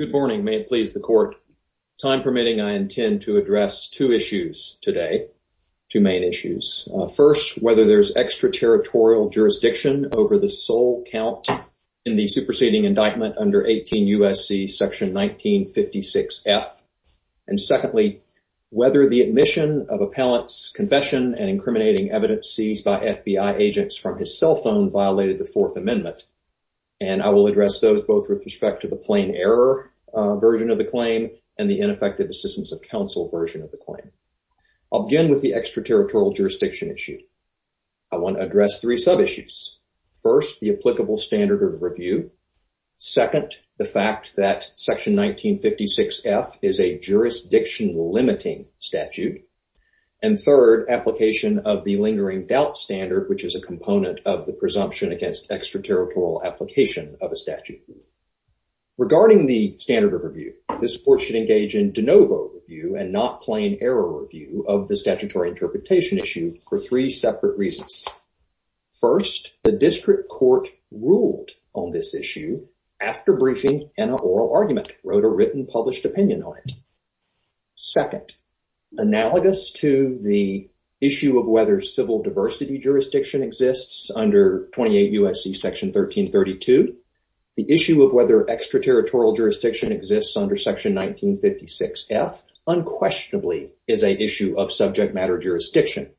Good morning, may it please the court. Time permitting, I intend to address two issues today, two main issues. First, whether there's extraterritorial jurisdiction over the sole count in the superseding indictment under 18 U.S.C. section 1956F. And secondly, whether the admission of appellant's confession and incriminating evidence seized by FBI agents from his cell phone violated the Fourth Amendment. And I will address those both with respect to the plain error version of the claim and the ineffective assistance of counsel version of the claim. I'll begin with the extraterritorial jurisdiction issue. I want to address three sub-issues. First, the applicable standard of review. Second, the fact that section 1956F is a jurisdiction-limiting statute. And third, application of the lingering doubt standard, which is a component of the presumption against extraterritorial application of a statute. Regarding the standard of review, this court should engage in de novo review and not plain error review of the statutory interpretation issue for three separate reasons. First, the district court ruled on this issue after briefing in an oral argument, wrote a written published opinion on it. Second, analogous to the issue of whether civil diversity jurisdiction exists under 28 U.S.C. section 1332, the issue of whether extraterritorial jurisdiction exists under section 1956F unquestionably is an issue of subject matter jurisdiction.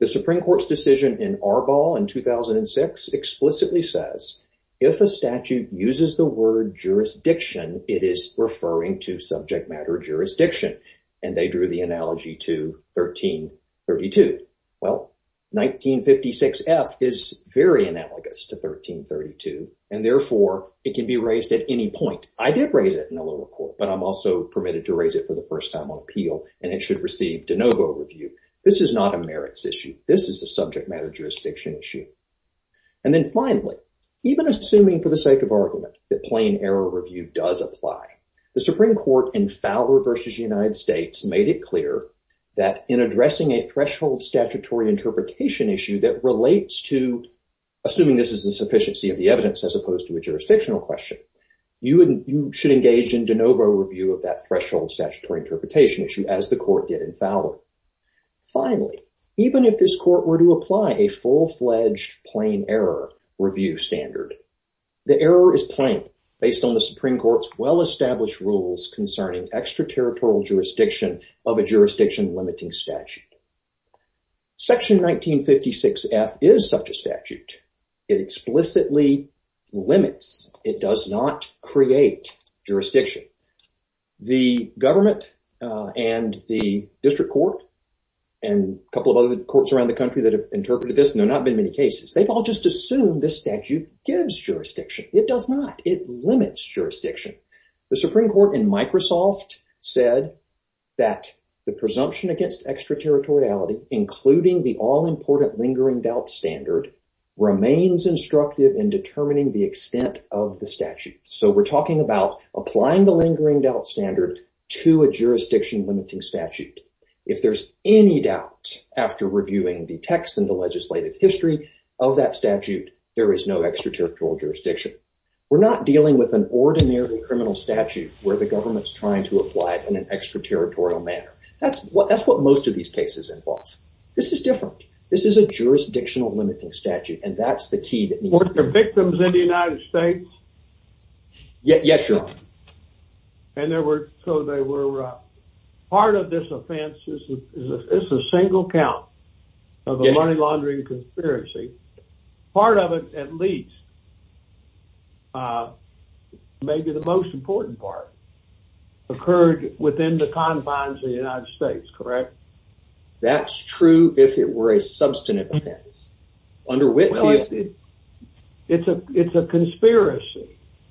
The Supreme Court's decision in Arbol in 2006 explicitly says, if a statute uses the word jurisdiction, it is referring to subject matter jurisdiction. And they drew the analogy to 1332. Well, 1956F is very analogous to 1332, and therefore, it can be raised at any point. I did raise it in a little court, but I'm also permitted to raise it for the first time on appeal, and it should receive de novo review. This is not a merits issue. This is a subject matter jurisdiction issue. And then The Supreme Court in Fowler v. United States made it clear that in addressing a threshold statutory interpretation issue that relates to assuming this is a sufficiency of the evidence as opposed to a jurisdictional question, you should engage in de novo review of that threshold statutory interpretation issue as the court did in Fowler. Finally, even if this court were to apply a full-fledged plain error review standard, the error is plain based on the Supreme Court's well-established rules concerning extraterritorial jurisdiction of a jurisdiction limiting statute. Section 1956F is such a statute. It explicitly limits. It does not create jurisdiction. The government and the district court and a couple of other courts around the country that have interpreted this, and there have not been many cases, they've all just assumed this statute gives jurisdiction. It does not. It limits jurisdiction. The Supreme Court in Microsoft said that the presumption against extraterritoriality, including the all-important lingering doubt standard, remains instructive in determining the extent of the statute. So we're talking about applying the lingering doubt standard to a jurisdiction limiting statute. If there's any doubt after reviewing the text and the legislative history of that statute, there is no extraterritorial jurisdiction. We're not dealing with an ordinary criminal statute where the government's trying to apply it in an extraterritorial manner. That's what most of these cases involve. This is different. This is a jurisdictional limiting statute and that's the key. Were there victims in the United States? Yes, your honor. And there were, so they were, part of this offense is a single count of a money laundering conspiracy. Part of it, at least, maybe the most important part, occurred within the confines of the United States, correct? That's true if it were a substantive offense. It's a conspiracy.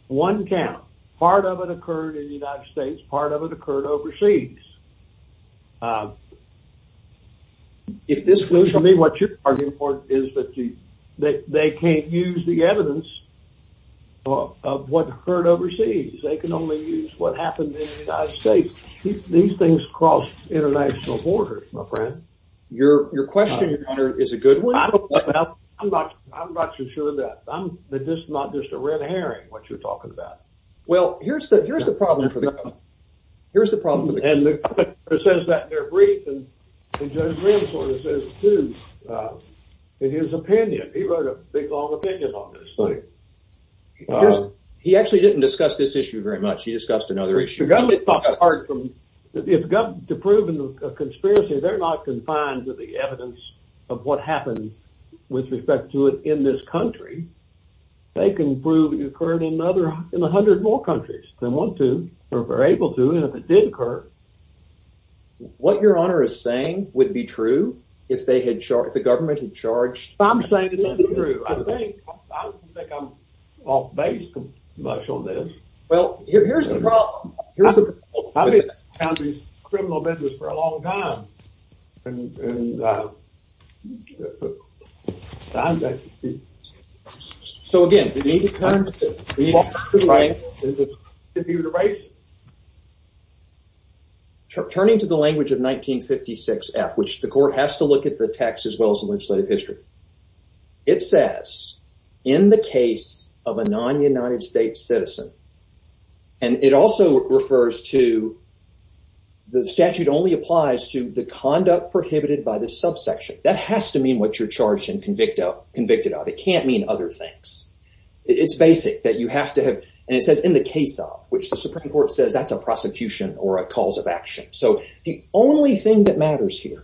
One count. Part of it occurred in the United States. Part of it occurred overseas. What you're arguing for is that they can't use the evidence of what occurred overseas. They can only use what happened in international borders, my friend. Your question, your honor, is a good one. I'm not too sure of that. I'm not just a red herring, what you're talking about. Well, here's the problem for them. Here's the problem. And the governor says that in their brief, and Judge Wren sort of says it too, in his opinion. He wrote a big, long opinion on this thing. He actually didn't discuss this issue very much. He discussed another issue. The government talks hard. If the government is proving a conspiracy, they're not confined to the evidence of what happened with respect to it in this country. They can prove it occurred in another, in 100 more countries. They want to, or were able to, and if it did occur. What your honor is saying would be true if they had, the government had charged. I'm saying it's not true. I think, I don't think I'm off base much on this. Well, here's the problem. I've been in this criminal business for a long time. So again, turning to the language of 1956 F, which the court has to look at the text as well as the citizen. And it also refers to the statute only applies to the conduct prohibited by the sub section. That has to mean what you're charged and convicted of. It can't mean other things. It's basic that you have to have, and it says in the case of which the Supreme Court says that's a prosecution or a cause of action. So the only thing that matters here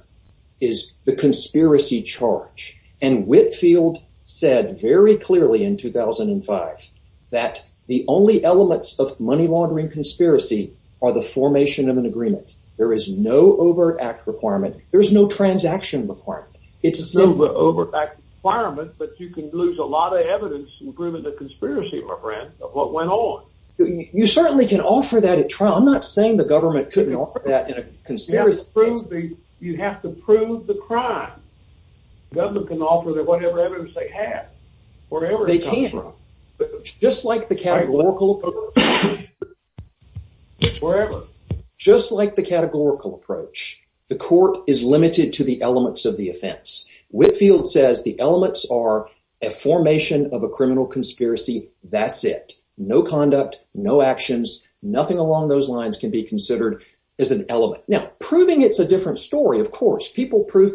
is the conspiracy charge. And Whitfield said very clearly in 2005 that the only elements of money laundering conspiracy are the formation of an agreement. There is no over act requirement. There's no transaction requirement. It's a silver over back fireman, but you can lose a lot of evidence and proven the conspiracy of my friend of what went on. You certainly can offer that a trial. I'm not saying the government couldn't offer that in a conspiracy. You have to prove the crime. Government can offer their whatever evidence they have wherever they can, just like the wherever, just like the categorical approach. The court is limited to the elements of the offense. Whitfield says the elements are a formation of a criminal conspiracy. That's it. No conduct, no actions. Nothing along those lines can be considered as an element. Now, prove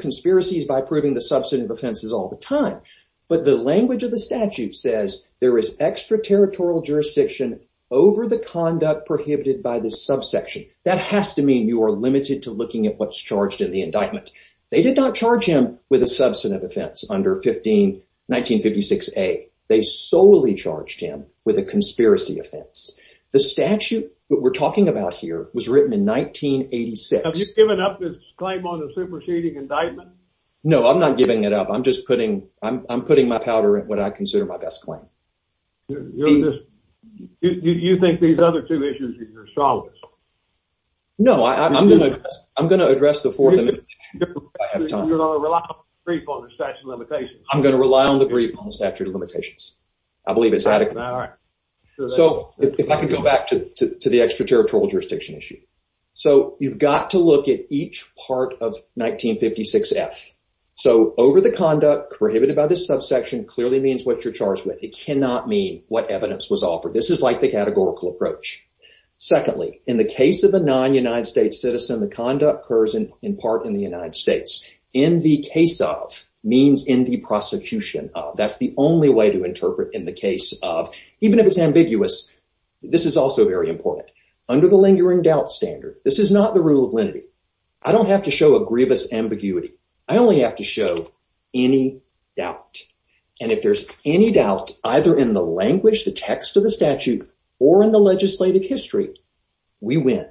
conspiracies by proving the substantive offenses all the time. But the language of the statute says there is extraterritorial jurisdiction over the conduct prohibited by the subsection. That has to mean you are limited to looking at what's charged in the indictment. They did not charge him with a substantive offense under 15 1956 a. They solely charged him with a conspiracy offense. The statute we're talking about here was written in 1986. Have you given up this claim on the superseding indictment? No, I'm not giving it up. I'm just putting I'm putting my powder in what I consider my best claim. You think these other two issues are your solids? No, I'm going to address the fourth. I'm going to rely on the brief on the statute of limitations. I believe it's adequate. So if I could go back to the extraterritorial jurisdiction issue. So you've got to look at each part of 1956 F. So over the conduct prohibited by this subsection clearly means what you're charged with. It cannot mean what evidence was offered. This is like the categorical approach. Secondly, in the case of a non United States citizen, the conduct occurs in part in the United States in the case of means in the prosecution. That's the only way to interpret in the case of even if it's ambiguous. This is also very important under the lingering doubt standard. This is not the rule of lenity. I don't have to show a grievous ambiguity. I only have to show any doubt. And if there's any doubt either in the language, the text of the statute, or in the legislative history, we win.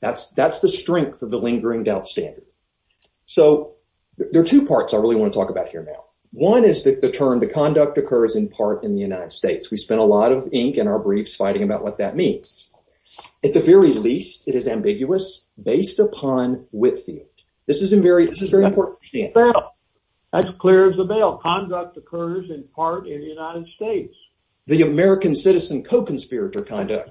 That's that's the strength of the lingering doubt standard. So there are two parts I really want to talk about here now. One is that the term the conduct occurs in part in the United States. We spent a lot of ink in our briefs fighting about what that means. At the very least, it is ambiguous based upon wit field. This is a very, this is very important. That's clear as the bell. Conduct occurs in part in the United States. The American citizen co-conspirator conduct.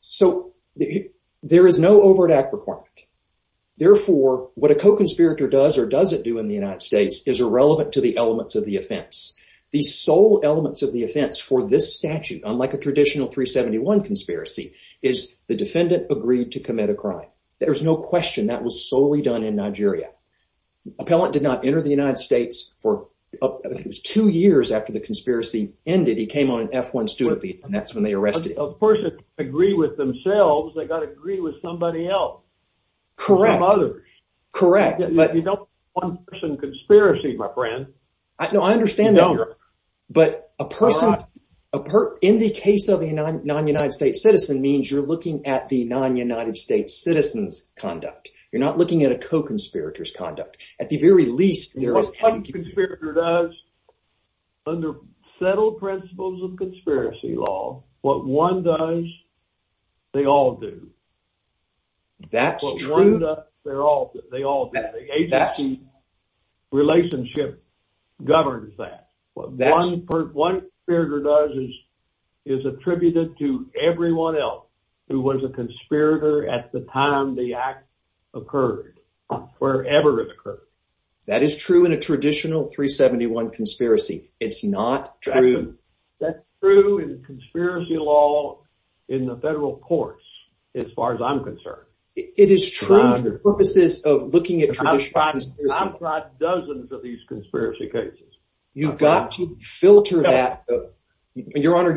So there is no overt act requirement. Therefore, what a co-conspirator does or doesn't do in the United States is irrelevant to the elements of the offense. The sole elements of the offense for this statute, unlike a traditional 371 conspiracy, is the defendant agreed to commit a crime. There's no question that was solely done in Nigeria. Appellant did not enter the United States for two years after the conspiracy ended. He came on an F1 student beat, and that's when they arrested him. Of course, they agree with themselves. They got to agree with somebody else. Correct. Correct. But you don't want one person conspiracy, my No, I understand. But a person in the case of a non-United States citizen means you're looking at the non-United States citizens conduct. You're not looking at a co-conspirator's conduct. At the very least, there is. What a co-conspirator does under settled principles of conspiracy law, what one does, they all do. That's true. What one does, they all do. The agency relationship governs that. What one conspirator does is attributed to everyone else who was a conspirator at the time the act occurred, wherever it occurred. That is true in a traditional 371 conspiracy. It's not true. That's true in conspiracy law in the federal courts, as far as I'm concerned. It is true for purposes of looking at traditional conspiracy law. I've tried dozens of these conspiracy cases. You've got to filter that. Your Honor,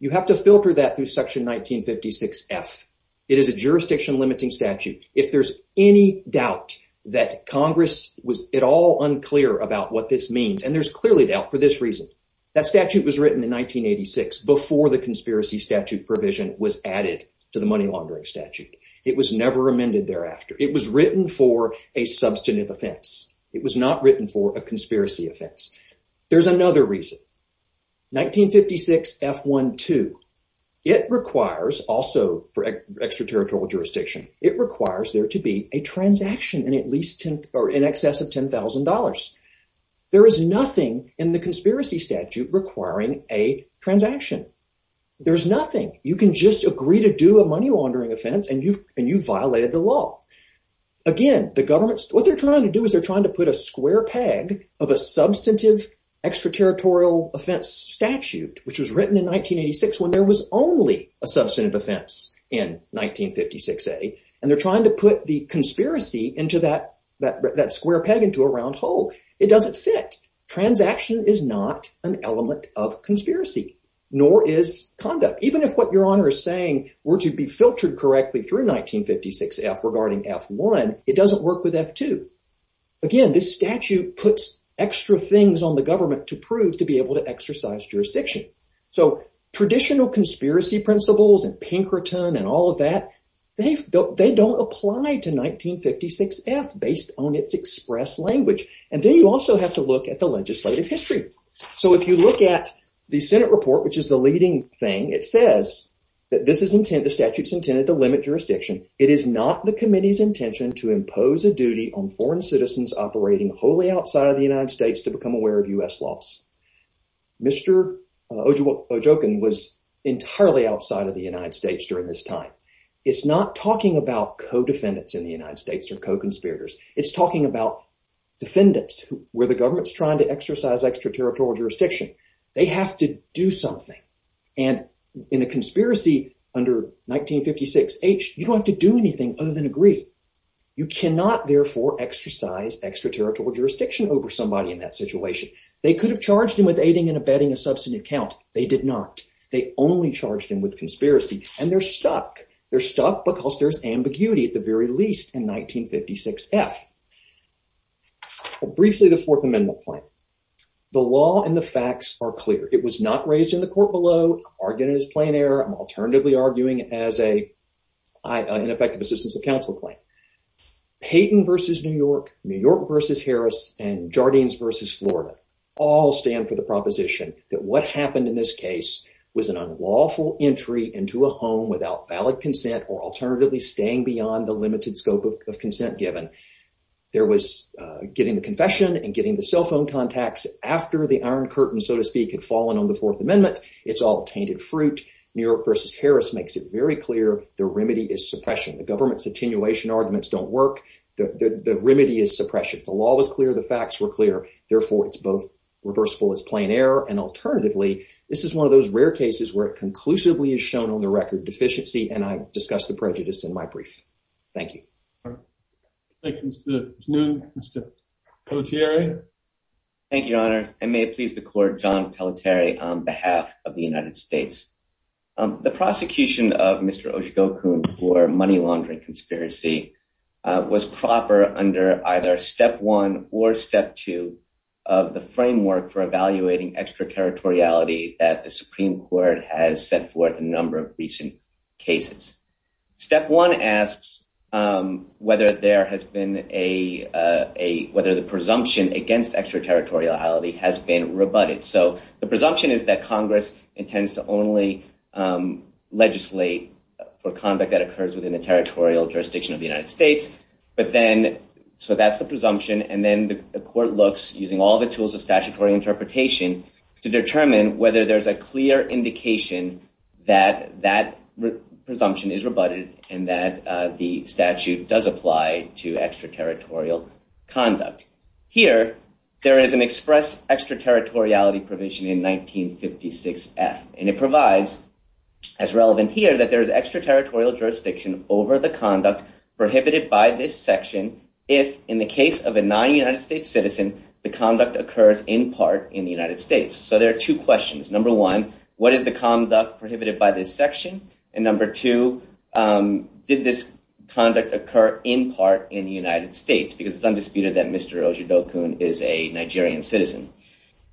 you have to filter that through section 1956F. It is a jurisdiction-limiting statute. If there's any doubt that Congress was at all unclear about what this means, and there's clearly doubt for this reason, that statute was written in 1986 before the conspiracy statute provision was added to the money laundering statute. It was never amended thereafter. It was written for a substantive offense. It was not written for a conspiracy offense. There's another reason. 1956F.1.2. It requires, also for extraterritorial jurisdiction, it requires there to be a transaction in excess of $10,000. There is nothing in the transaction. There's nothing. You can just agree to do a money laundering offense, and you've violated the law. Again, the government, what they're trying to do is they're trying to put a square peg of a substantive extraterritorial offense statute, which was written in 1986, when there was only a substantive offense in 1956A, and they're trying to put the conspiracy into that square peg into a round hole. It doesn't fit. Transaction is not an element of conspiracy, nor is conduct. Even if what Your Honor is saying were to be filtered correctly through 1956F regarding F1, it doesn't work with F2. Again, this statute puts extra things on the government to prove to be able to exercise jurisdiction. So traditional conspiracy principles and Pinkerton and all of that, they don't apply to 1956F based on its express language. And then you also have to look at the legislative history. So if you look at the Senate report, which is the leading thing, it says that the statute's intended to limit jurisdiction. It is not the committee's intention to impose a duty on foreign citizens operating wholly outside of the United States to become aware of U.S. laws. Mr. Ojokin was entirely outside of the United States during this time. It's not talking about co-defendants in the United States or co-conspirators. It's talking about defendants where the government's trying to exercise extraterritorial jurisdiction. They have to do something. And in a conspiracy under 1956H, you don't have to do anything other than agree. You cannot, therefore, exercise extraterritorial jurisdiction over somebody in that situation. They could have charged him with aiding and abetting a substantive count. They did not. They only charged him with conspiracy. And they're stuck. They're stuck because there's ambiguity at the very least in 1956F. Briefly, the Fourth Amendment claim. The law and the facts are clear. It was not raised in the court below, argued in his plain air. I'm alternatively arguing as an effective assistance of counsel claim. Payton versus New York, New York versus Harris, and Jardines versus Florida all stand for the proposition that what happened in this case was an unlawful entry into a home without valid consent or alternatively staying beyond the limited scope of consent given. There was getting the confession and getting the cell phone contacts after the Iron Curtain, so to speak, had fallen on the Fourth Amendment. It's all tainted fruit. New York versus Harris makes it very clear the remedy is suppression. The government's attenuation arguments don't work. The remedy is suppression. The law was clear. The facts were clear. Therefore, it's both reversible as plain air. And alternatively, this is one of those rare cases where it conclusively is shown on the record deficiency. And I've discussed the prejudice in my brief. Thank you. Thank you, sir. Mr. Pelletieri. Thank you, Your Honor. I may please the court, John Pelletieri on behalf of the United States. The prosecution of Mr. Oshigokun for money laundering conspiracy was proper under either step one or step two of the framework for evaluating extraterritoriality that the Supreme Court has set forth a number of recent cases. Step one asks whether there has been a, whether the presumption against extraterritoriality has been rebutted. So the presumption is that Congress intends to only legislate for conduct that occurs within the territorial jurisdiction of the United States. But then, so that's the presumption. And then the court looks using all the tools of statutory interpretation to determine whether there's a clear indication that that presumption is rebutted and that the statute does apply to extraterritorial conduct. Here, there is an express extraterritoriality provision in 1956 F and it provides as relevant here that there is extraterritorial jurisdiction over the conduct prohibited by this section. If in the case of a non-United States citizen, the conduct occurs in part in the United States. So there are two questions. Number one, what is the conduct prohibited by this section? And number two, did this conduct occur in part in the United States? Because it's undisputed that Mr. Ojibokun is a Nigerian citizen.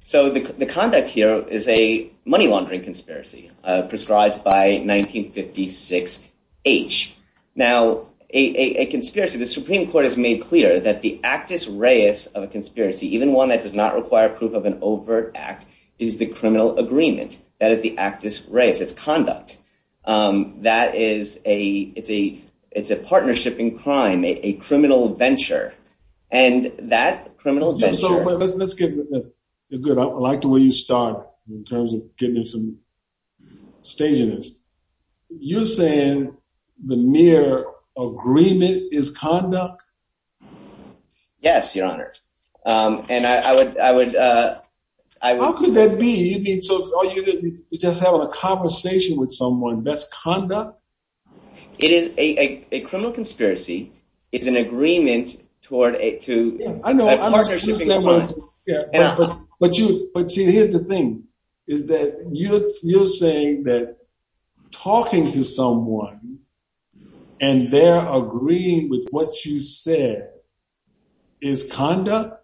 So the conduct here is a money laundering conspiracy prescribed by 1956 H. Now, a conspiracy, the Supreme Court has made clear that the actus reus of a conspiracy, even one that does not is the actus reus. It's conduct. That is a, it's a, it's a partnership in crime, a criminal venture. And that criminal venture. So let's get, good. I like the way you start in terms of getting into some staginess. You're saying the mere agreement is conduct? Yes, Your Honor. And I would, I would, uh, I would. How could that be? You just having a conversation with someone, that's conduct? It is a criminal conspiracy. It's an agreement toward a, to a partnership. But you, but see, here's the thing is that you, you're saying that talking to someone and they're agreeing with what you said is conduct.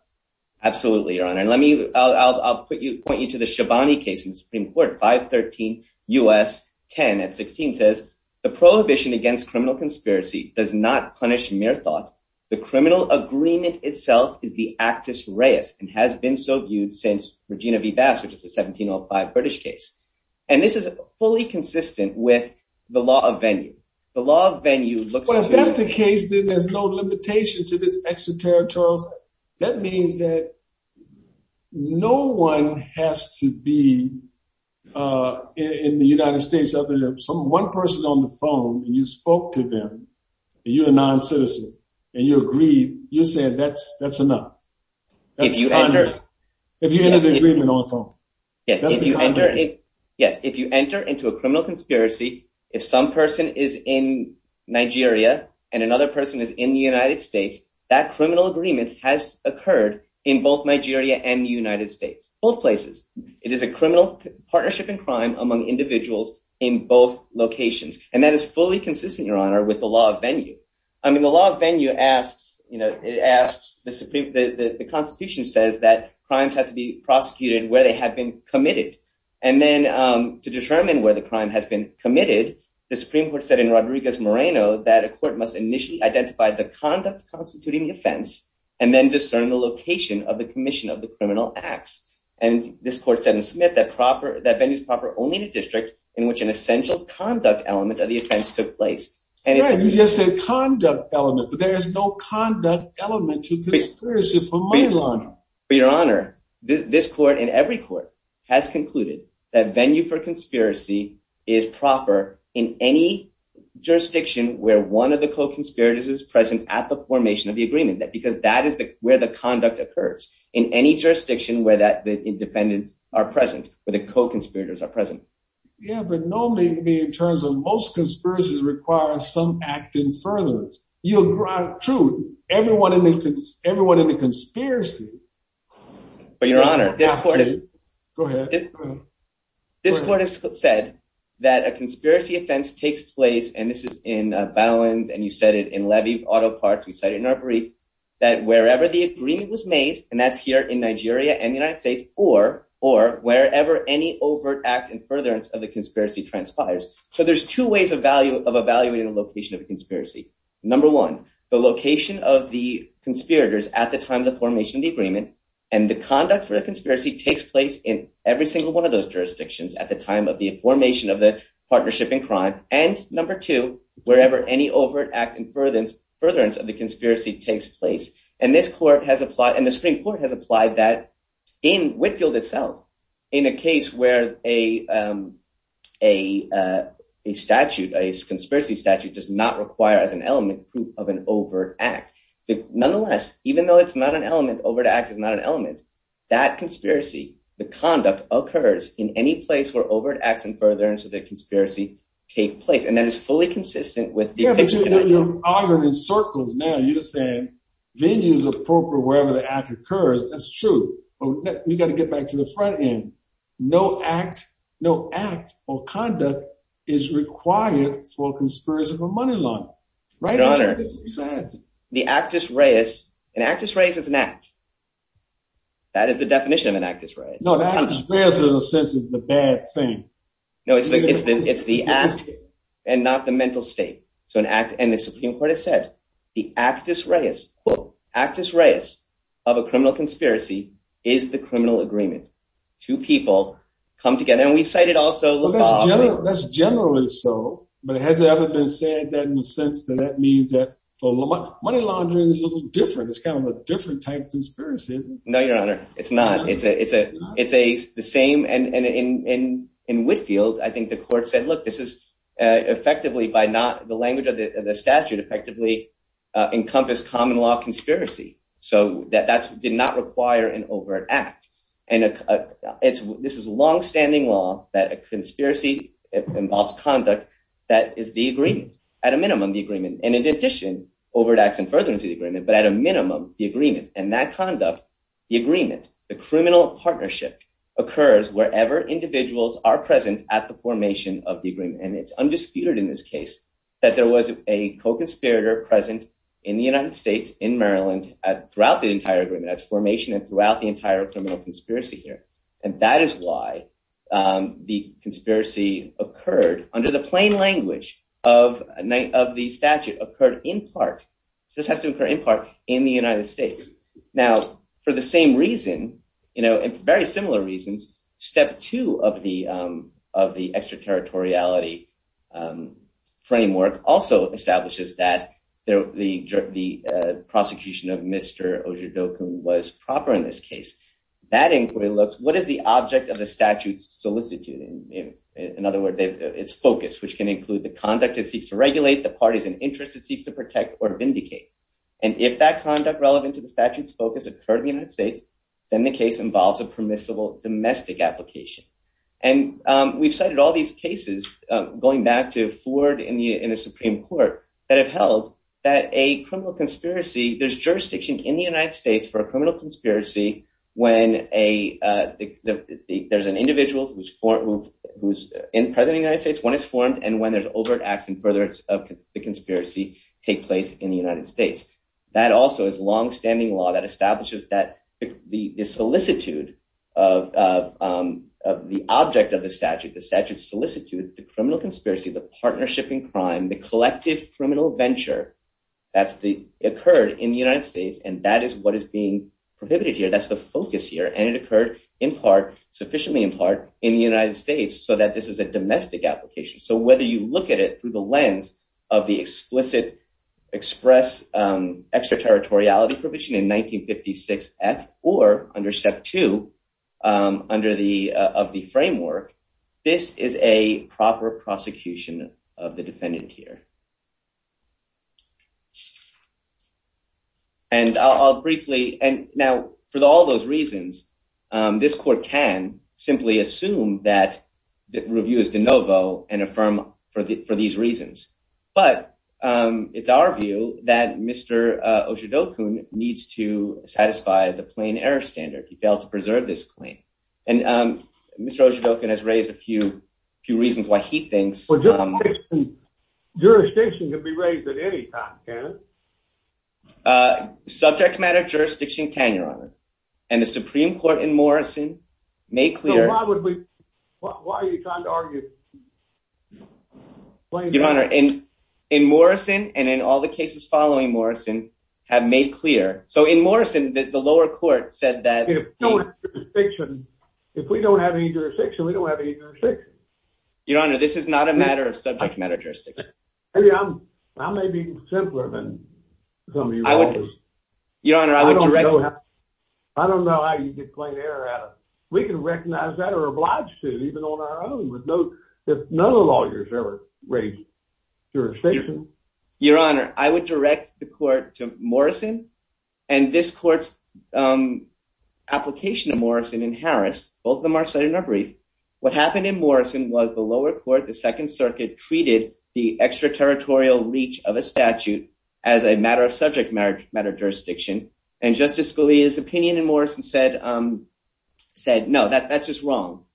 Absolutely, Your Honor. And let me, I'll, I'll put you, point you to the Shabani case in the Supreme Court, 513 U.S. 10 at 16 says the prohibition against criminal conspiracy does not punish mere thought. The criminal agreement itself is the actus reus and has been so viewed since Regina V. Bass, which is a 1705 British case. And this is fully consistent with the law of venue. The law of venue looks. Well, if that's the case, then there's no limitation to this extraterritorial. That means that no one has to be, uh, in the United States other than some one person on the phone and you spoke to them and you're a non-citizen and you agreed, you said that's, that's enough. If you enter, if you enter the agreement also. Yes. Yes. If you enter into a criminal conspiracy, if some person is in Nigeria and another person is in the United States, that criminal agreement has occurred in both Nigeria and the United States, both places. It is a criminal partnership in crime among individuals in both locations. And that is fully consistent, Your Honor, with the law of venue. I mean, the law of venue asks, you know, it asks the Supreme, the constitution says that crimes have to be prosecuted where they have been committed. And then, um, to determine where the crime has been committed, the Supreme Court said in Rodriguez Moreno that a court must initially identify the conduct constituting the offense and then discern the location of the commission of the criminal acts. And this court said in Smith that proper that venues proper only to district in which an essential conduct element of the took place. And you just said conduct element, but there is no conduct element to this. For your honor, this court in every court has concluded that venue for conspiracy is proper in any jurisdiction where one of the co-conspirators is present at the formation of the agreement that, because that is where the conduct occurs in any jurisdiction where that the defendants are present with the co-conspirators are present. Yeah. But normally it would be in requires some act in furtherance. You'll grant true everyone in the, everyone in the conspiracy, but your honor, this court is, go ahead. This court has said that a conspiracy offense takes place. And this is in a balance. And you said it in levy auto parts. We cited in our brief that wherever the agreement was made and that's here in Nigeria and the United States or, or wherever any overt act and furtherance of the conspiracy transpires. So there's two ways of evaluating the location of the conspiracy. Number one, the location of the conspirators at the time of the formation of the agreement and the conduct for the conspiracy takes place in every single one of those jurisdictions at the time of the formation of the partnership in crime. And number two, wherever any overt act and furtherance of the conspiracy takes place. And this court has applied and the Supreme Court has applied that in Whitfield itself in a case where a, um, a, uh, a statute, a conspiracy statute does not require as an element proof of an overt act, but nonetheless, even though it's not an element over to act, it's not an element that conspiracy, the conduct occurs in any place where overt acts and furtherance of the conspiracy take place. And that is fully consistent with the circles. Now you're saying venues appropriate for wherever the act occurs. That's true. You got to get back to the front end. No act, no act or conduct is required for a conspiracy for money laundering, right? The actus reis, an actus reis is an act. That is the definition of an actus reis. No, the actus reis in a sense is the bad thing. No, it's the, it's the act and not the mental state. So an act and the Supreme Court has said the actus reis actus reis of a criminal conspiracy is the criminal agreement. Two people come together and we cited also, that's generally so, but it hasn't ever been said that in a sense that that means that for money laundering is a little different. It's kind of a different type conspiracy. No, your honor. It's not. It's a, it's a, it's a, the same. And in, in, in, in Whitfield, I think the court said, look, this is, uh, effectively by not the language of the statute effectively, uh, encompass common law conspiracy. So that, that's did not require an overt act. And, uh, it's, this is longstanding law that a conspiracy involves conduct. That is the agreement at a minimum, the agreement. And in addition, overt acts and furtherance of the agreement, but at a minimum, the agreement and that conduct, the agreement, the criminal partnership occurs wherever individuals are present at the formation of the agreement. And it's undisputed in this case that there was a co-conspirator present in the United States, in Maryland at throughout the entire agreement as formation and throughout the entire criminal conspiracy here. And that is why, um, the conspiracy occurred under the plain language of a night of the statute occurred in part, just has to occur in part in the United States. Now, for the same reason, you know, and very similar reasons, step two of the, um, of the extraterritoriality, um, framework also establishes that the, the, uh, prosecution of Mr. Ojiboko was proper in this case, that inquiry looks, what is the object of the statutes solicitude? And in other words, it's focused, which can include the conduct it seeks to regulate the parties and interests it seeks to protect or vindicate. And if that conduct relevant to the statutes focus occurred in the United States, then the case involves a permissible domestic application. And, um, we've cited all these cases, um, going back to Ford in the, in the Supreme court that have held that a criminal conspiracy there's jurisdiction in the United States for a criminal conspiracy. When a, uh, the, the, there's an individual who's formed, who's in president United States when it's formed. And when there's overt acts and furtherance of the conspiracy take place in the United States, that also is longstanding law that establishes that the solicitude of, um, of the object of the statute, the statute solicitude, the criminal conspiracy, the partnership in crime, the collective criminal venture, that's the occurred in the United States. And that is what is being prohibited here. That's the focus here. And it occurred in part sufficiently in part in the United States so that this is a domestic application. So whether you look at it through the lens of the explicit express, um, extraterritoriality in 1956 F or under step two, um, under the, uh, of the framework, this is a proper prosecution of the defendant here. And I'll briefly, and now for all those reasons, um, this court can simply assume that the review and affirm for the, for these reasons. But, um, it's our view that Mr. Oshidoku needs to satisfy the plain error standard. He failed to preserve this claim. And, um, Mr. Oshidoku has raised a few, few reasons why he thinks. Jurisdiction can be raised at any time. Subject matter, jurisdiction can your honor and the Supreme court in Morrison made clear. Why are you trying to argue? Your honor in, in Morrison and in all the cases following Morrison have made clear. So in Morrison, the lower court said that if we don't have any jurisdiction, we don't have any jurisdiction. Your honor, this is not a matter of subject matter. Maybe I'm, I may be simpler than some of you. Your honor, I don't know. I don't know how you get plain error we can recognize that or obliged to even on our own with no, if none of the lawyers ever raised jurisdiction. Your honor, I would direct the court to Morrison and this court's, um, application of Morrison and Harris, both of them are cited in our brief. What happened in Morrison was the lower court, the second circuit treated the extraterritorial reach of a statute as a matter of subject matter, matter of jurisdiction. And justice Scalia's opinion in Morrison said, um, said, no, that that's just wrong.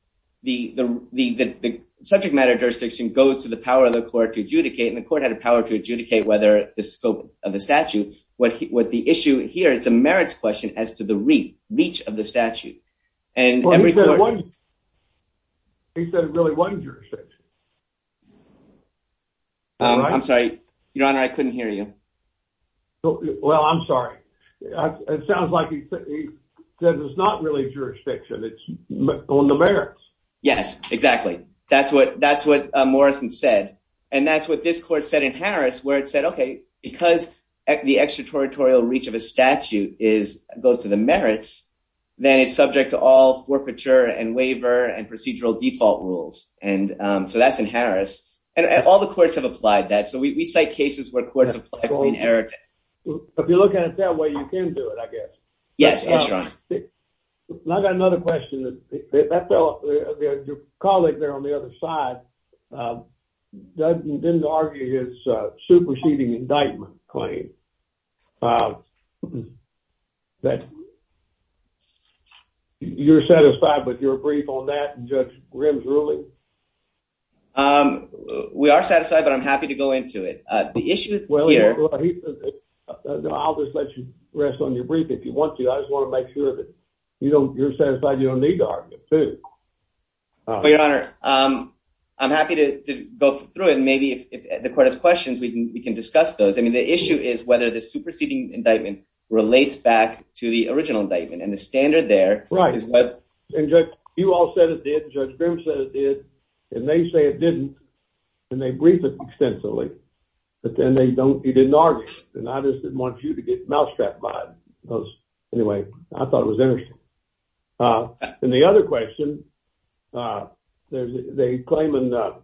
The, the, the, the, the subject matter jurisdiction goes to the power of the court to adjudicate. And the court had a power to adjudicate whether the scope of the statute, what, what the issue here, it's a merits question as to the reach, reach of the statute. And he said it really wasn't jurisdiction. I'm sorry, your honor. I couldn't hear you. Well, I'm sorry. It sounds like he said it's not really jurisdiction. It's on the merits. Yes, exactly. That's what, that's what Morrison said. And that's what this court said in Harris, where it said, okay, because the extraterritorial reach of a statute is go to the merits, then it's subject to all forfeiture and waiver and procedural default rules. And, um, so that's in If you're looking at it that way, you can do it, I guess. Yes. Yes, your honor. I got another question that, that fellow, your colleague there on the other side, um, doesn't, didn't argue his, uh, superseding indictment claim, um, that you're satisfied with your brief on that and judge Grimm's ruling? Um, we are satisfied, but I'm happy to go into it. Uh, the issue here, uh, I'll just let you rest on your brief. If you want to, I just want to make sure that you don't, you're satisfied. You don't need to argue it too. Your honor. Um, I'm happy to go through it. And maybe if the court has questions, we can, we can discuss those. I mean, the issue is whether the superseding indictment relates back to the original indictment and the standard there. Right. And judge, you all said it did judge Grimm said it did, and they say it didn't and they briefed it extensively, but then they don't, he didn't argue it. And I just didn't want you to get mousetrapped by it because anyway, I thought it was interesting. Uh, and the other question, uh, there's a claim in the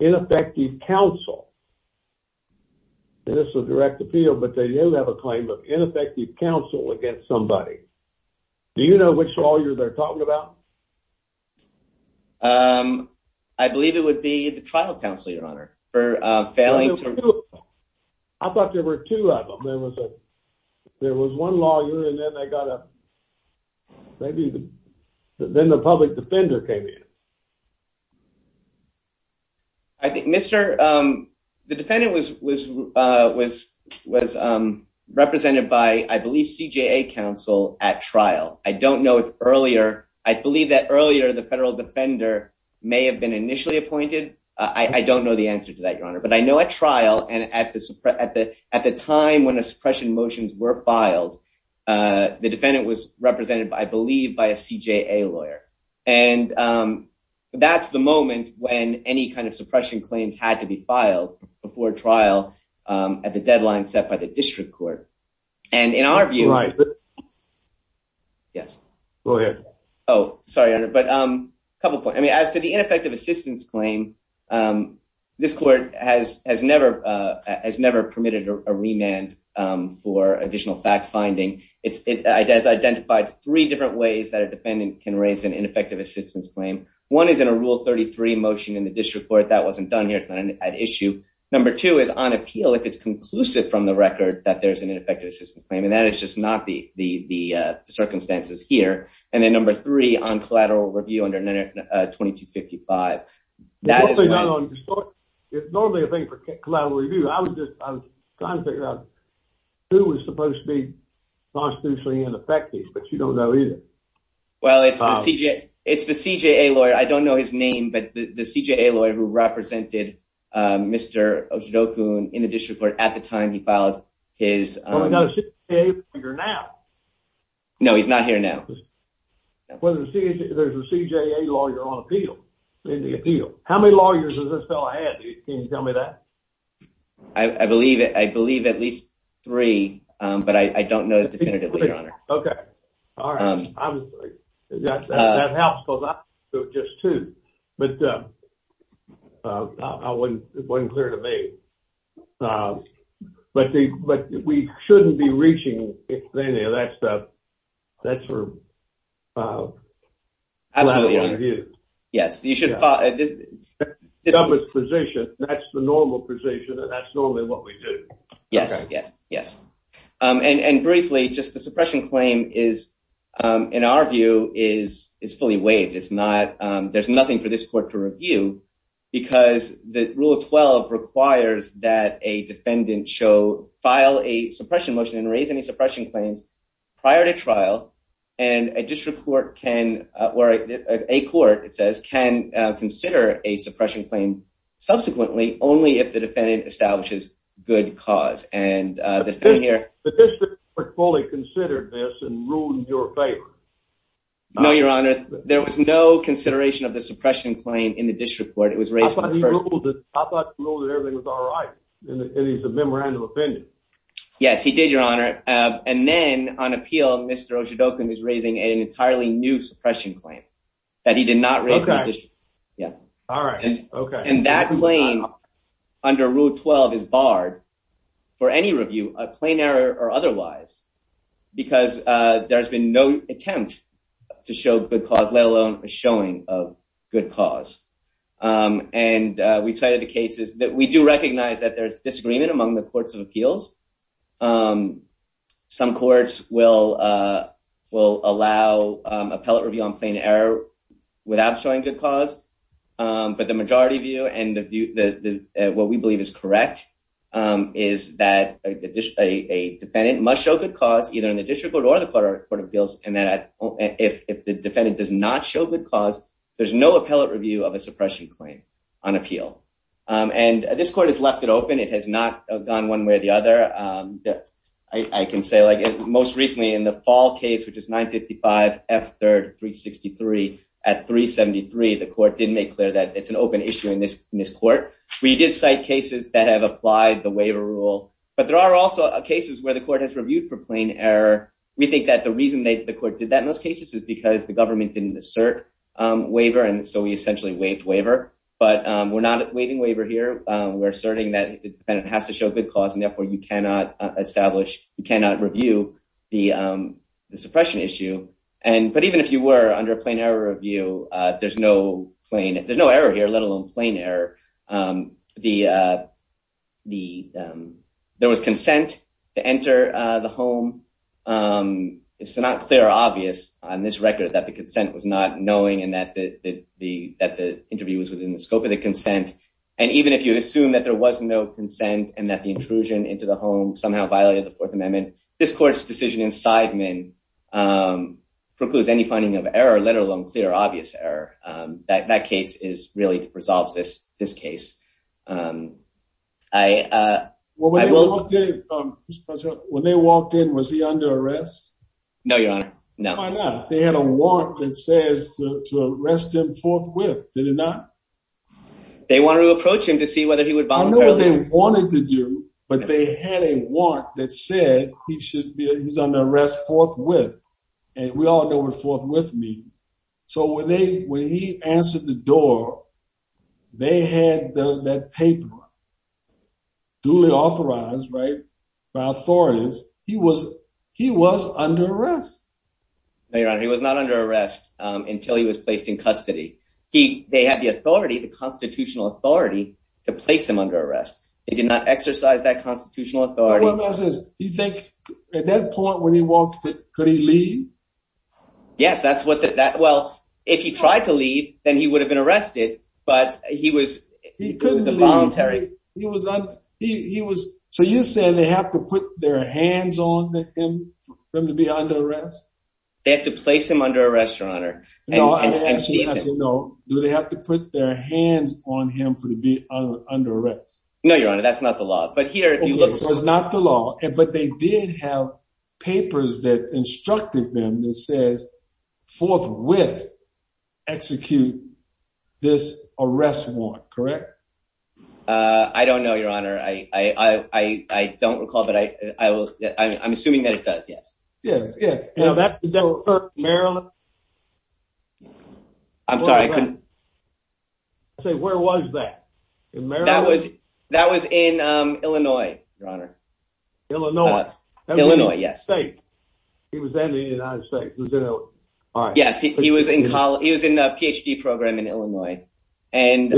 ineffective counsel, and this is a direct appeal, but they do have a claim of ineffective counsel against somebody. Do you know which lawyer they're talking about? Um, I believe it would be the trial counsel, your honor for, uh, failing. I thought there were two of them. There was a, there was one lawyer and then they got a, maybe then the public defender came in. I think Mr. Um, the defendant was, was, uh, was, was, um, represented by, I believe CJA counsel at trial. I don't know if earlier, I believe that earlier the federal defender may have been initially appointed. Uh, I don't know the answer to that, your honor, but I know at trial and at the, at the, at the time when the suppression motions were filed, uh, the defendant was represented by, I believe by a CJA lawyer. And, um, that's the moment when any kind of suppression claims had to be filed before trial, um, at the deadline set by the court. Yes. Go ahead. Oh, sorry, your honor. But, um, a couple of points. I mean, as to the ineffective assistance claim, um, this court has, has never, uh, has never permitted a remand, um, for additional fact finding. It's, it has identified three different ways that a defendant can raise an ineffective assistance claim. One is in a rule 33 motion in the district court. That wasn't done here. It's not an issue. Number two is on appeal. If it's conclusive from the the, uh, the circumstances here. And then number three on collateral review under 2255. It's normally a thing for collateral review. I was just, I was trying to figure out who was supposed to be constitutionally ineffective, but you don't know either. Well, it's the CJA, it's the CJA lawyer. I don't know his name, but the CJA lawyer who represented, um, Mr. Oshidokun in the district court at the time he filed his, um. Well, we know the CJA lawyer now. No, he's not here now. There's a CJA lawyer on appeal, in the appeal. How many lawyers does this fellow have? Can you tell me that? I, I believe, I believe at least three, um, but I, I don't know definitively, okay. All right, I'm, that, that helps because I, so just two, but, uh, uh, I wouldn't, it wasn't clear to me, uh, but the, but we shouldn't be reaching any of that stuff. That's for, uh, yes, you should, uh, position. That's the normal position and that's normally what we do. Yes, yes, yes. Um, and, and briefly, just the suppression claim is, um, in our view is, is fully waived. It's not, um, there's nothing for this court to review because the rule of 12 requires that a defendant show, file a suppression motion and raise any suppression claims prior to trial and a district court can, or a court, it says, can consider a suppression claim subsequently only if the defendant establishes good cause. And, uh, the thing here, no, your honor, there was no consideration of the suppression claim in the district court. Yes, he did your honor. Um, and then on appeal, Mr. Oshadokun is raising an entirely new suppression claim that he did not raise. Yeah. All right. And that claim under rule 12 is barred for any review, a plain error or otherwise, because, uh, there has been no attempt to show good cause, let alone a showing of good cause. Um, and, uh, we cited the cases that we do recognize that there's disagreement among the courts of appeals. Um, some courts will, uh, will allow, um, appellate review on plain error without showing good cause. Um, but the majority view and the view that what we believe is correct, um, is that a defendant must show good cause either in the district court or the court of appeals. And that if the defendant does not show good cause, there's no appellate review of a suppression claim on appeal. Um, and this court has left it open. It has not gone one way or the other. Um, I can say like most recently in the fall case, which is 955 F third, three 63 at three 73. The court didn't make clear that it's an open issue in this court. We did cite cases that have applied the waiver rule, but there are also cases where the court has reviewed for plain error. We think that the reason that the court did that in those cases is because the government didn't assert, um, waiver. And so we essentially waived waiver, but, um, we're not waiving waiver here. Um, we're asserting that the defendant has to show good cause and therefore you cannot establish, you cannot review the, um, the suppression issue. And, but even if you were under a plain error review, uh, there's no plain, there's no error here, let alone plain error. Um, the, uh, the, um, there was consent to enter the home. Um, it's not clear, obvious on this record that the consent was not knowing and that the, the, that the interview was within the scope of the consent. And even if you assume that there was no consent and that the intrusion into the home somehow violated the fourth amendment, this court's decision in Sideman, um, precludes any finding of error, let alone clear, obvious error. Um, that, that case is really resolves this, this case. Um, I, uh, well, when they walked in, was he under arrest? No, your honor. No, they had a warrant that says to arrest him forthwith. Did it not? They wanted to approach him to see whether he would volunteer. I know what they wanted to do, but they had a warrant that said he should be, he's under arrest forthwith. And we all know what forthwith means. So when they, when he answered the door, they had the, that paper duly authorized, right, by authorities, he was, he was under arrest. No, your honor, he was not under arrest, um, until he was placed in custody. He, they had the authority, the constitutional authority to place him under arrest. They did not exercise that constitutional authority. You think at that point when he walked, could he leave? Yes, that's what that, that, well, if he tried to leave, then he would have been arrested, but he was, he was a voluntary. He was on, he, he was, so you're saying they have to put their hands on him for him to be under arrest? They have to place him under arrest, your honor. Do they have to put their hands on him for to be under arrest? No, your honor, that's not the law, but here if you look, it's not the law, but they did have papers that instructed them that says forthwith execute this arrest warrant, correct? Uh, I don't know, your honor. I, I, I, I don't recall, but I, I will. I'm assuming that it does. Yes. Yeah. Maryland. I'm sorry. I couldn't say where was that? That was, that was in, um, Illinois, your honor, Illinois, Illinois. Yes. He was in the United States. All right. Yes. He was in college. He was in a PhD program in Illinois and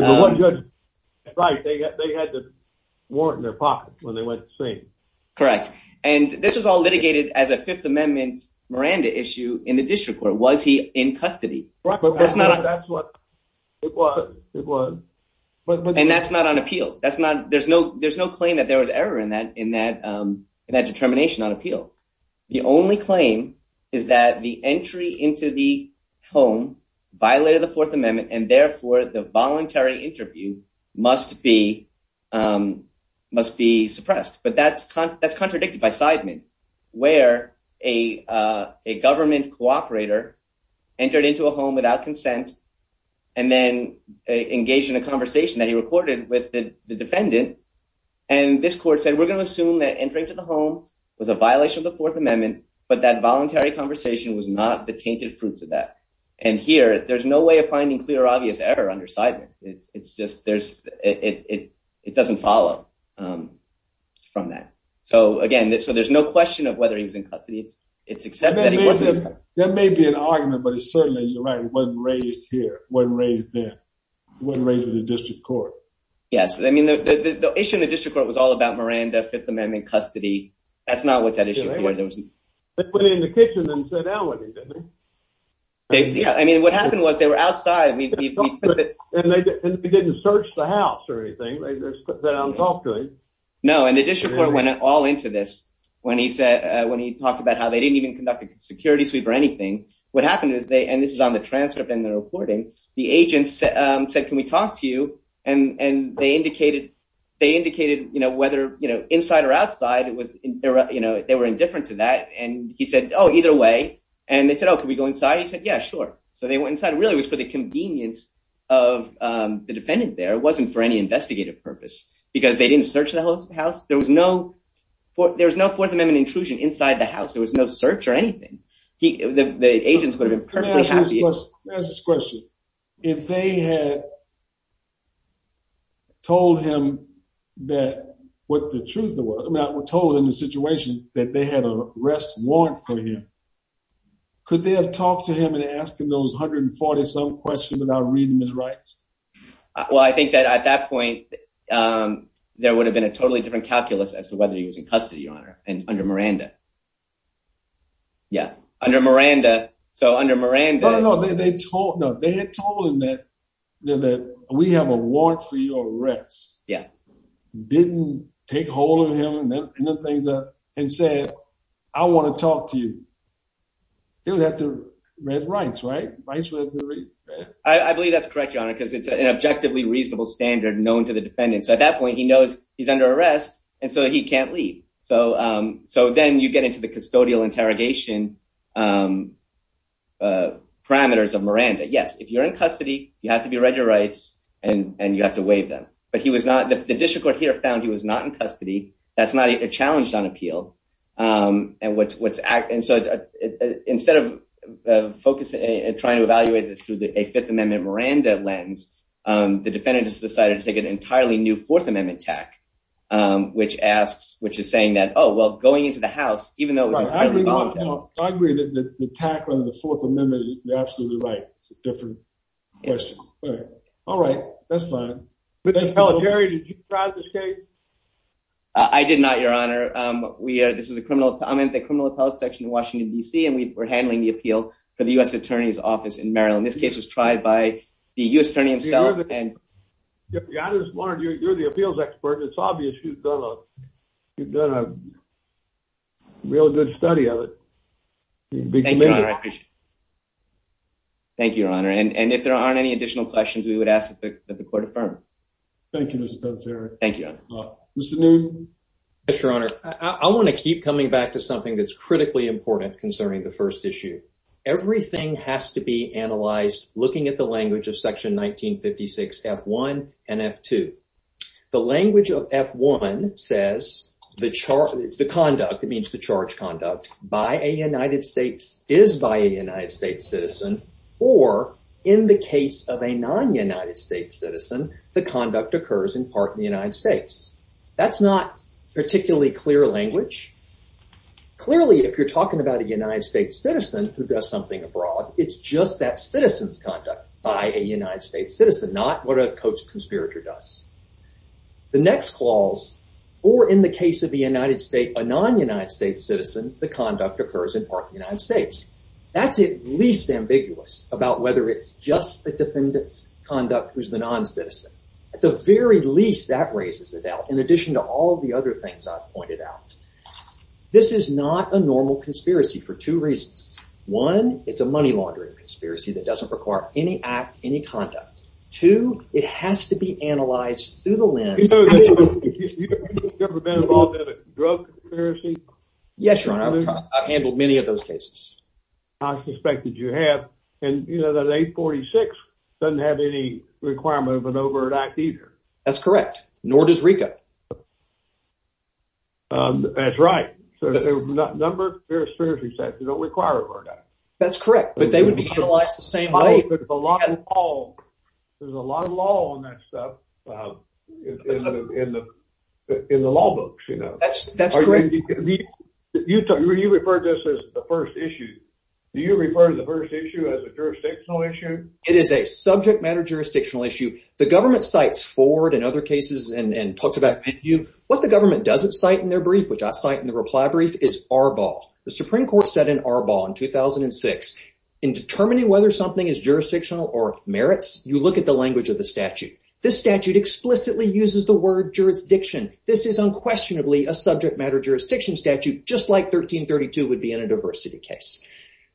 right. They got, they had the warrant in their pocket when they went to see him. Correct. And this was all litigated as a fifth amendment Miranda issue in the district court. Was he in custody? That's not what it was. And that's not on appeal. That's not, there's no, there's no claim that there was error in that, in that, um, in that determination on appeal. The only claim is that the entry into the home violated the fourth amendment. And therefore the voluntary interview must be, um, must be suppressed, but that's, that's contradicted by Sideman where a, uh, a government cooperator entered into a home without consent and then engaged in a conversation that he recorded with the defendant. And this court said, we're going to assume that entering to the home was a violation of the fourth amendment, but that voluntary conversation was not the tainted fruits of that. And here there's no way of finding clear, obvious error under Sideman. It's just, there's, it, it, it doesn't follow, um, from that. So again, so there's no question of whether he was in custody. It's, it's accepted. That may be an argument, but it's certainly, you're right. It wasn't raised here. Wasn't raised there. Wasn't raised with the district court. Yes. I mean, the issue in the fifth amendment custody, that's not what's at issue. Yeah. I mean, what happened was they were outside and they didn't search the house or anything. No. And the district court went all into this when he said, uh, when he talked about how they didn't even conduct a security sweep or anything, what happened is they, and this is on the transcript and the reporting, the agents said, can we talk to you? And, and they indicated, they indicated, you know, whether, you know, inside or outside, it was, you know, they were indifferent to that. And he said, Oh, either way. And they said, Oh, can we go inside? He said, yeah, sure. So they went inside. It really was for the convenience of, um, the defendant there. It wasn't for any investigative purpose because they didn't search the house. There was no, there was no fourth amendment intrusion inside the house. There was no search or anything. He, the agents would have been perfectly happy. There's this question. If they had told him that what the truth was, I mean, I was told in the situation that they had a rest warrant for him. Could they have talked to him and asked him those 140 some questions without reading his rights? Well, I think that at that point, um, there would have been a totally different calculus as to whether he was in custody on her and under Miranda. Yeah. Under Miranda. So under Miranda, they had told him that, you know, that we have a warrant for your arrest. Yeah. Didn't take hold of him and then things up and said, I want to talk to you. He would have to read rights, right? I believe that's correct, your Honor, because it's an objectively reasonable standard known to the defendant. So at that point he knows he's under arrest and so he can't leave. So, um, so then you get into the custodial interrogation, um, parameters of Miranda. Yes. If you're in custody, you have to be read your rights and you have to waive them. But he was not, the district court here found he was not in custody. That's not a challenge on appeal. Um, and what's, what's act. And so instead of focusing and trying to evaluate this through a fifth amendment Miranda lens, um, the defendants decided to take an entirely new fourth amendment tack, um, which asks, which is saying that, oh, well, going into the house, even though I agree that the attack on the fourth amendment, you're absolutely right. It's a different question. All right. That's fine. Jerry, did you try this case? I did not, your Honor. Um, we are, this is the criminal comment, the criminal appellate section in Washington DC. And we were handling the appeal for the U S attorney's office in Maryland. This expert, it's obvious. You've done a, you've done a real good study of it. Thank you, your Honor. And if there aren't any additional questions we would ask that the court affirmed. Thank you, Mr. Potts. Eric. Thank you. Mr. Newton. Yes, your Honor. I want to keep coming back to something that's critically important concerning the first issue. Everything has to The language of F1 says the charge, the conduct, it means the charge conduct by a United States is by a United States citizen. Or in the case of a non United States citizen, the conduct occurs in part in the United States. That's not particularly clear language. Clearly, if you're talking about a United States citizen who does something abroad, it's just that citizen's conduct by a United States citizen, not what a coach conspirator does. The next clause, or in the case of the United States, a non United States citizen, the conduct occurs in part of the United States. That's at least ambiguous about whether it's just the defendant's conduct who's the non-citizen. At the very least, that raises the doubt. In addition to all the other things I've pointed out, this is not a normal conspiracy for two reasons. One, it's a money laundering conspiracy that doesn't require any act, any conduct. Two, it has to be analyzed through the lens. Yes, your honor. I've handled many of those cases. I suspected you have. And you know that 846 doesn't have any requirement of an overt act either. That's correct. Nor does RICO. That's right. So there's a number of conspiracy sets that don't require an overt act. That's correct. But they would be utilized the same way. There's a lot of law on that stuff in the law books, you know. That's correct. You referred to this as the first issue. Do you refer to the first issue as a jurisdictional issue? It is a subject matter jurisdictional issue. The government cites Ford in other cases and talks about you. What the government doesn't cite in their brief, which I cite in the reply brief, is Arbaugh. The Supreme Court said in Arbaugh in 2006, in determining whether something is jurisdictional or merits, you look at the language of the statute. This statute explicitly uses the word jurisdiction. This is unquestionably a subject matter jurisdiction statute, just like 1332 would be in a diversity case.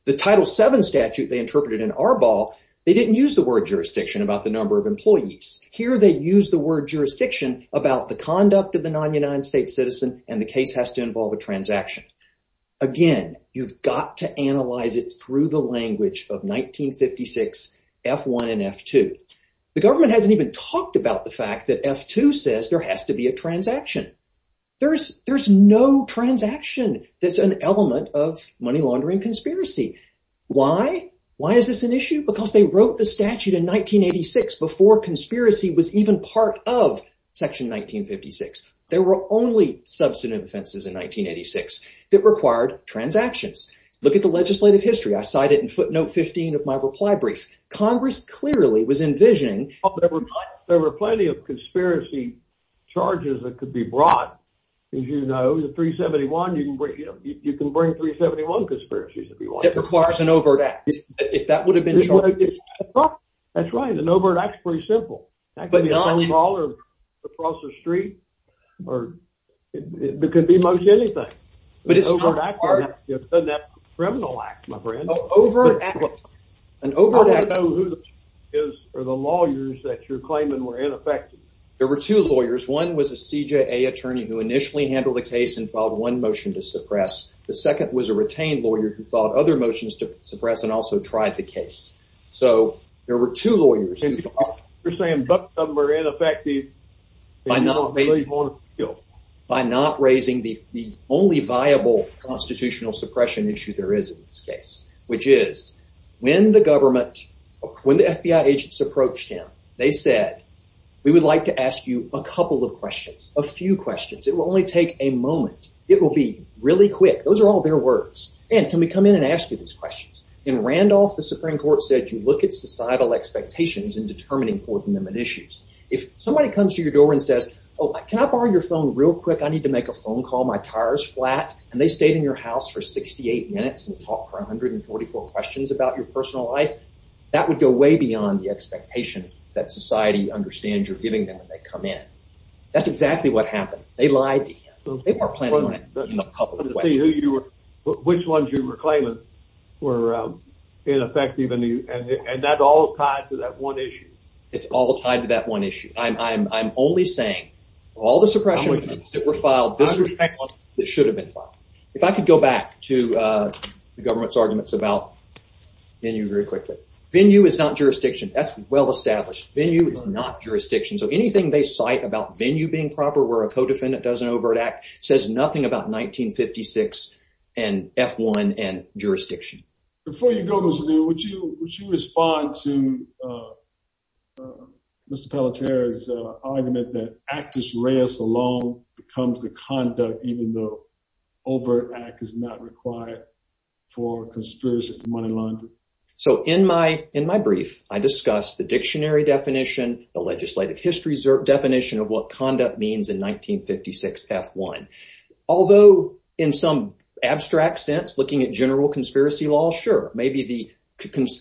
The Title VII statute they interpreted in Arbaugh, they didn't use the word jurisdiction about the number of employees. Here they use the word jurisdiction about the conduct of the non-United States citizen and the case has to involve a transaction. Again, you've got to analyze it through the language of 1956 F1 and F2. The government hasn't even talked about the fact that F2 says there has to be a transaction. There's no transaction that's an element of money laundering conspiracy. Why? Why is this an issue? Because they wrote the statute in 1986 before conspiracy was even part of 1956. There were only substantive offenses in 1986 that required transactions. Look at the legislative history. I cite it in footnote 15 of my reply brief. Congress clearly was envisioning... There were plenty of conspiracy charges that could be brought. As you know, the 371, you can bring, you know, you can bring 371 conspiracies if you want. That requires an overt act. If that would have been true. That's right. An overt act is pretty simple. It could be most anything. It's a criminal act, my friend. An overt act. I don't know who the lawyers that you're claiming were ineffective. There were two lawyers. One was a CJA attorney who initially handled the case and filed one motion to suppress. The second was a retained lawyer who filed other motions to suppress and also tried the case. So there were two lawyers. You're saying both of them were ineffective by not raising the only viable constitutional suppression issue there is in this case, which is when the government, when the FBI agents approached him, they said, we would like to ask you a couple of questions, a few questions. It will only take a moment. It will be really quick. Those are all their words. And can we come in and ask you these questions? In Randolph, the Supreme Court said, you look at societal expectations and somebody comes to your door and says, oh, can I borrow your phone real quick? I need to make a phone call. My car's flat. And they stayed in your house for 68 minutes and talk for 144 questions about your personal life. That would go way beyond the expectation that society understands you're giving them when they come in. That's exactly what happened. They lied to him. They were planning on it. Which ones you were claiming were ineffective. And that all tied to that one issue. It's all tied to that one issue. I'm only saying all the suppression issues that were filed, this should have been filed. If I could go back to the government's arguments about venue very quickly. Venue is not jurisdiction. That's well established. Venue is not jurisdiction. So anything they cite about venue being proper, where a co-defendant doesn't overreact, says nothing about 1956 and F1 and jurisdiction. Before you go, Mr. Dean, would you respond to Mr. Pelletier's argument that Actus Reus alone becomes the conduct, even though overt act is not required for conspiracy for money laundering? So in my brief, I discuss the dictionary definition, the legislative history definition of what conduct means in 1956 F1. Although in some abstract sense, looking at general conspiracy law, sure. Maybe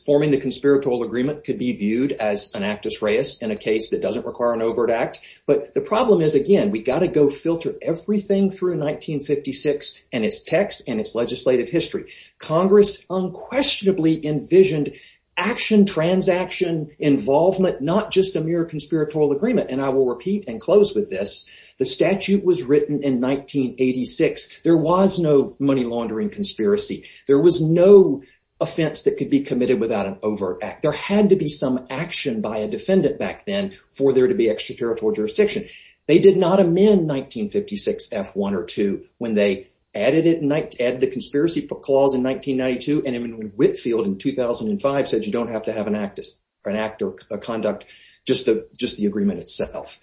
forming the conspiratorial agreement could be viewed as an Actus Reus in a case that doesn't require an overt act. But the problem is, again, we got to go filter everything through 1956 and its text and its legislative history. Congress unquestionably envisioned action transaction involvement, not just a mere conspiratorial agreement. And I will repeat and close with this. The statute was written in 1986. There was no money laundering conspiracy. There was no offense that could be committed without an overt act. There had to be some action by a defendant back then for there to be extraterritorial jurisdiction. They did not amend 1956 F1 or 2 when they added the conspiracy clause in 1992. And Whitfield in 2005 said you don't have to have an act or conduct, just the agreement itself.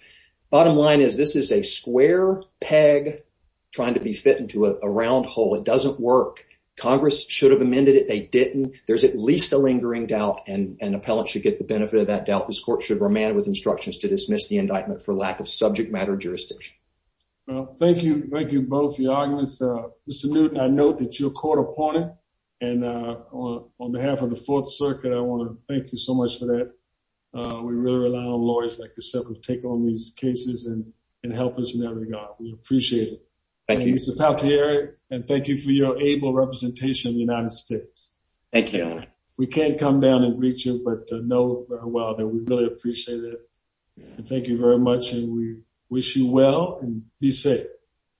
Bottom line is this is a square peg trying to be fit into a round hole. It doesn't work. Congress should have amended it. They didn't. There's at least a lingering doubt, and an appellant should get the benefit of that doubt. This court should remand with instructions to dismiss the indictment for lack of subject matter jurisdiction. Thank you. Thank you both for your arguments. Mr Newton, I note that you're caught upon it. And on behalf of the take on these cases and help us in that regard, we appreciate it. Thank you. And thank you for your able representation in the United States. Thank you. We can't come down and reach you, but know well that we really appreciate it. And thank you very much. And we wish you well and be safe.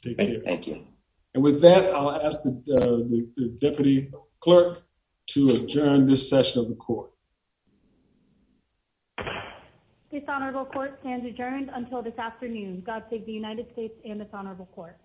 Thank you. And with that, I'll ask the deputy clerk to adjourn this session of the court. Dishonorable court stands adjourned until this afternoon. God save the United States and dishonorable court.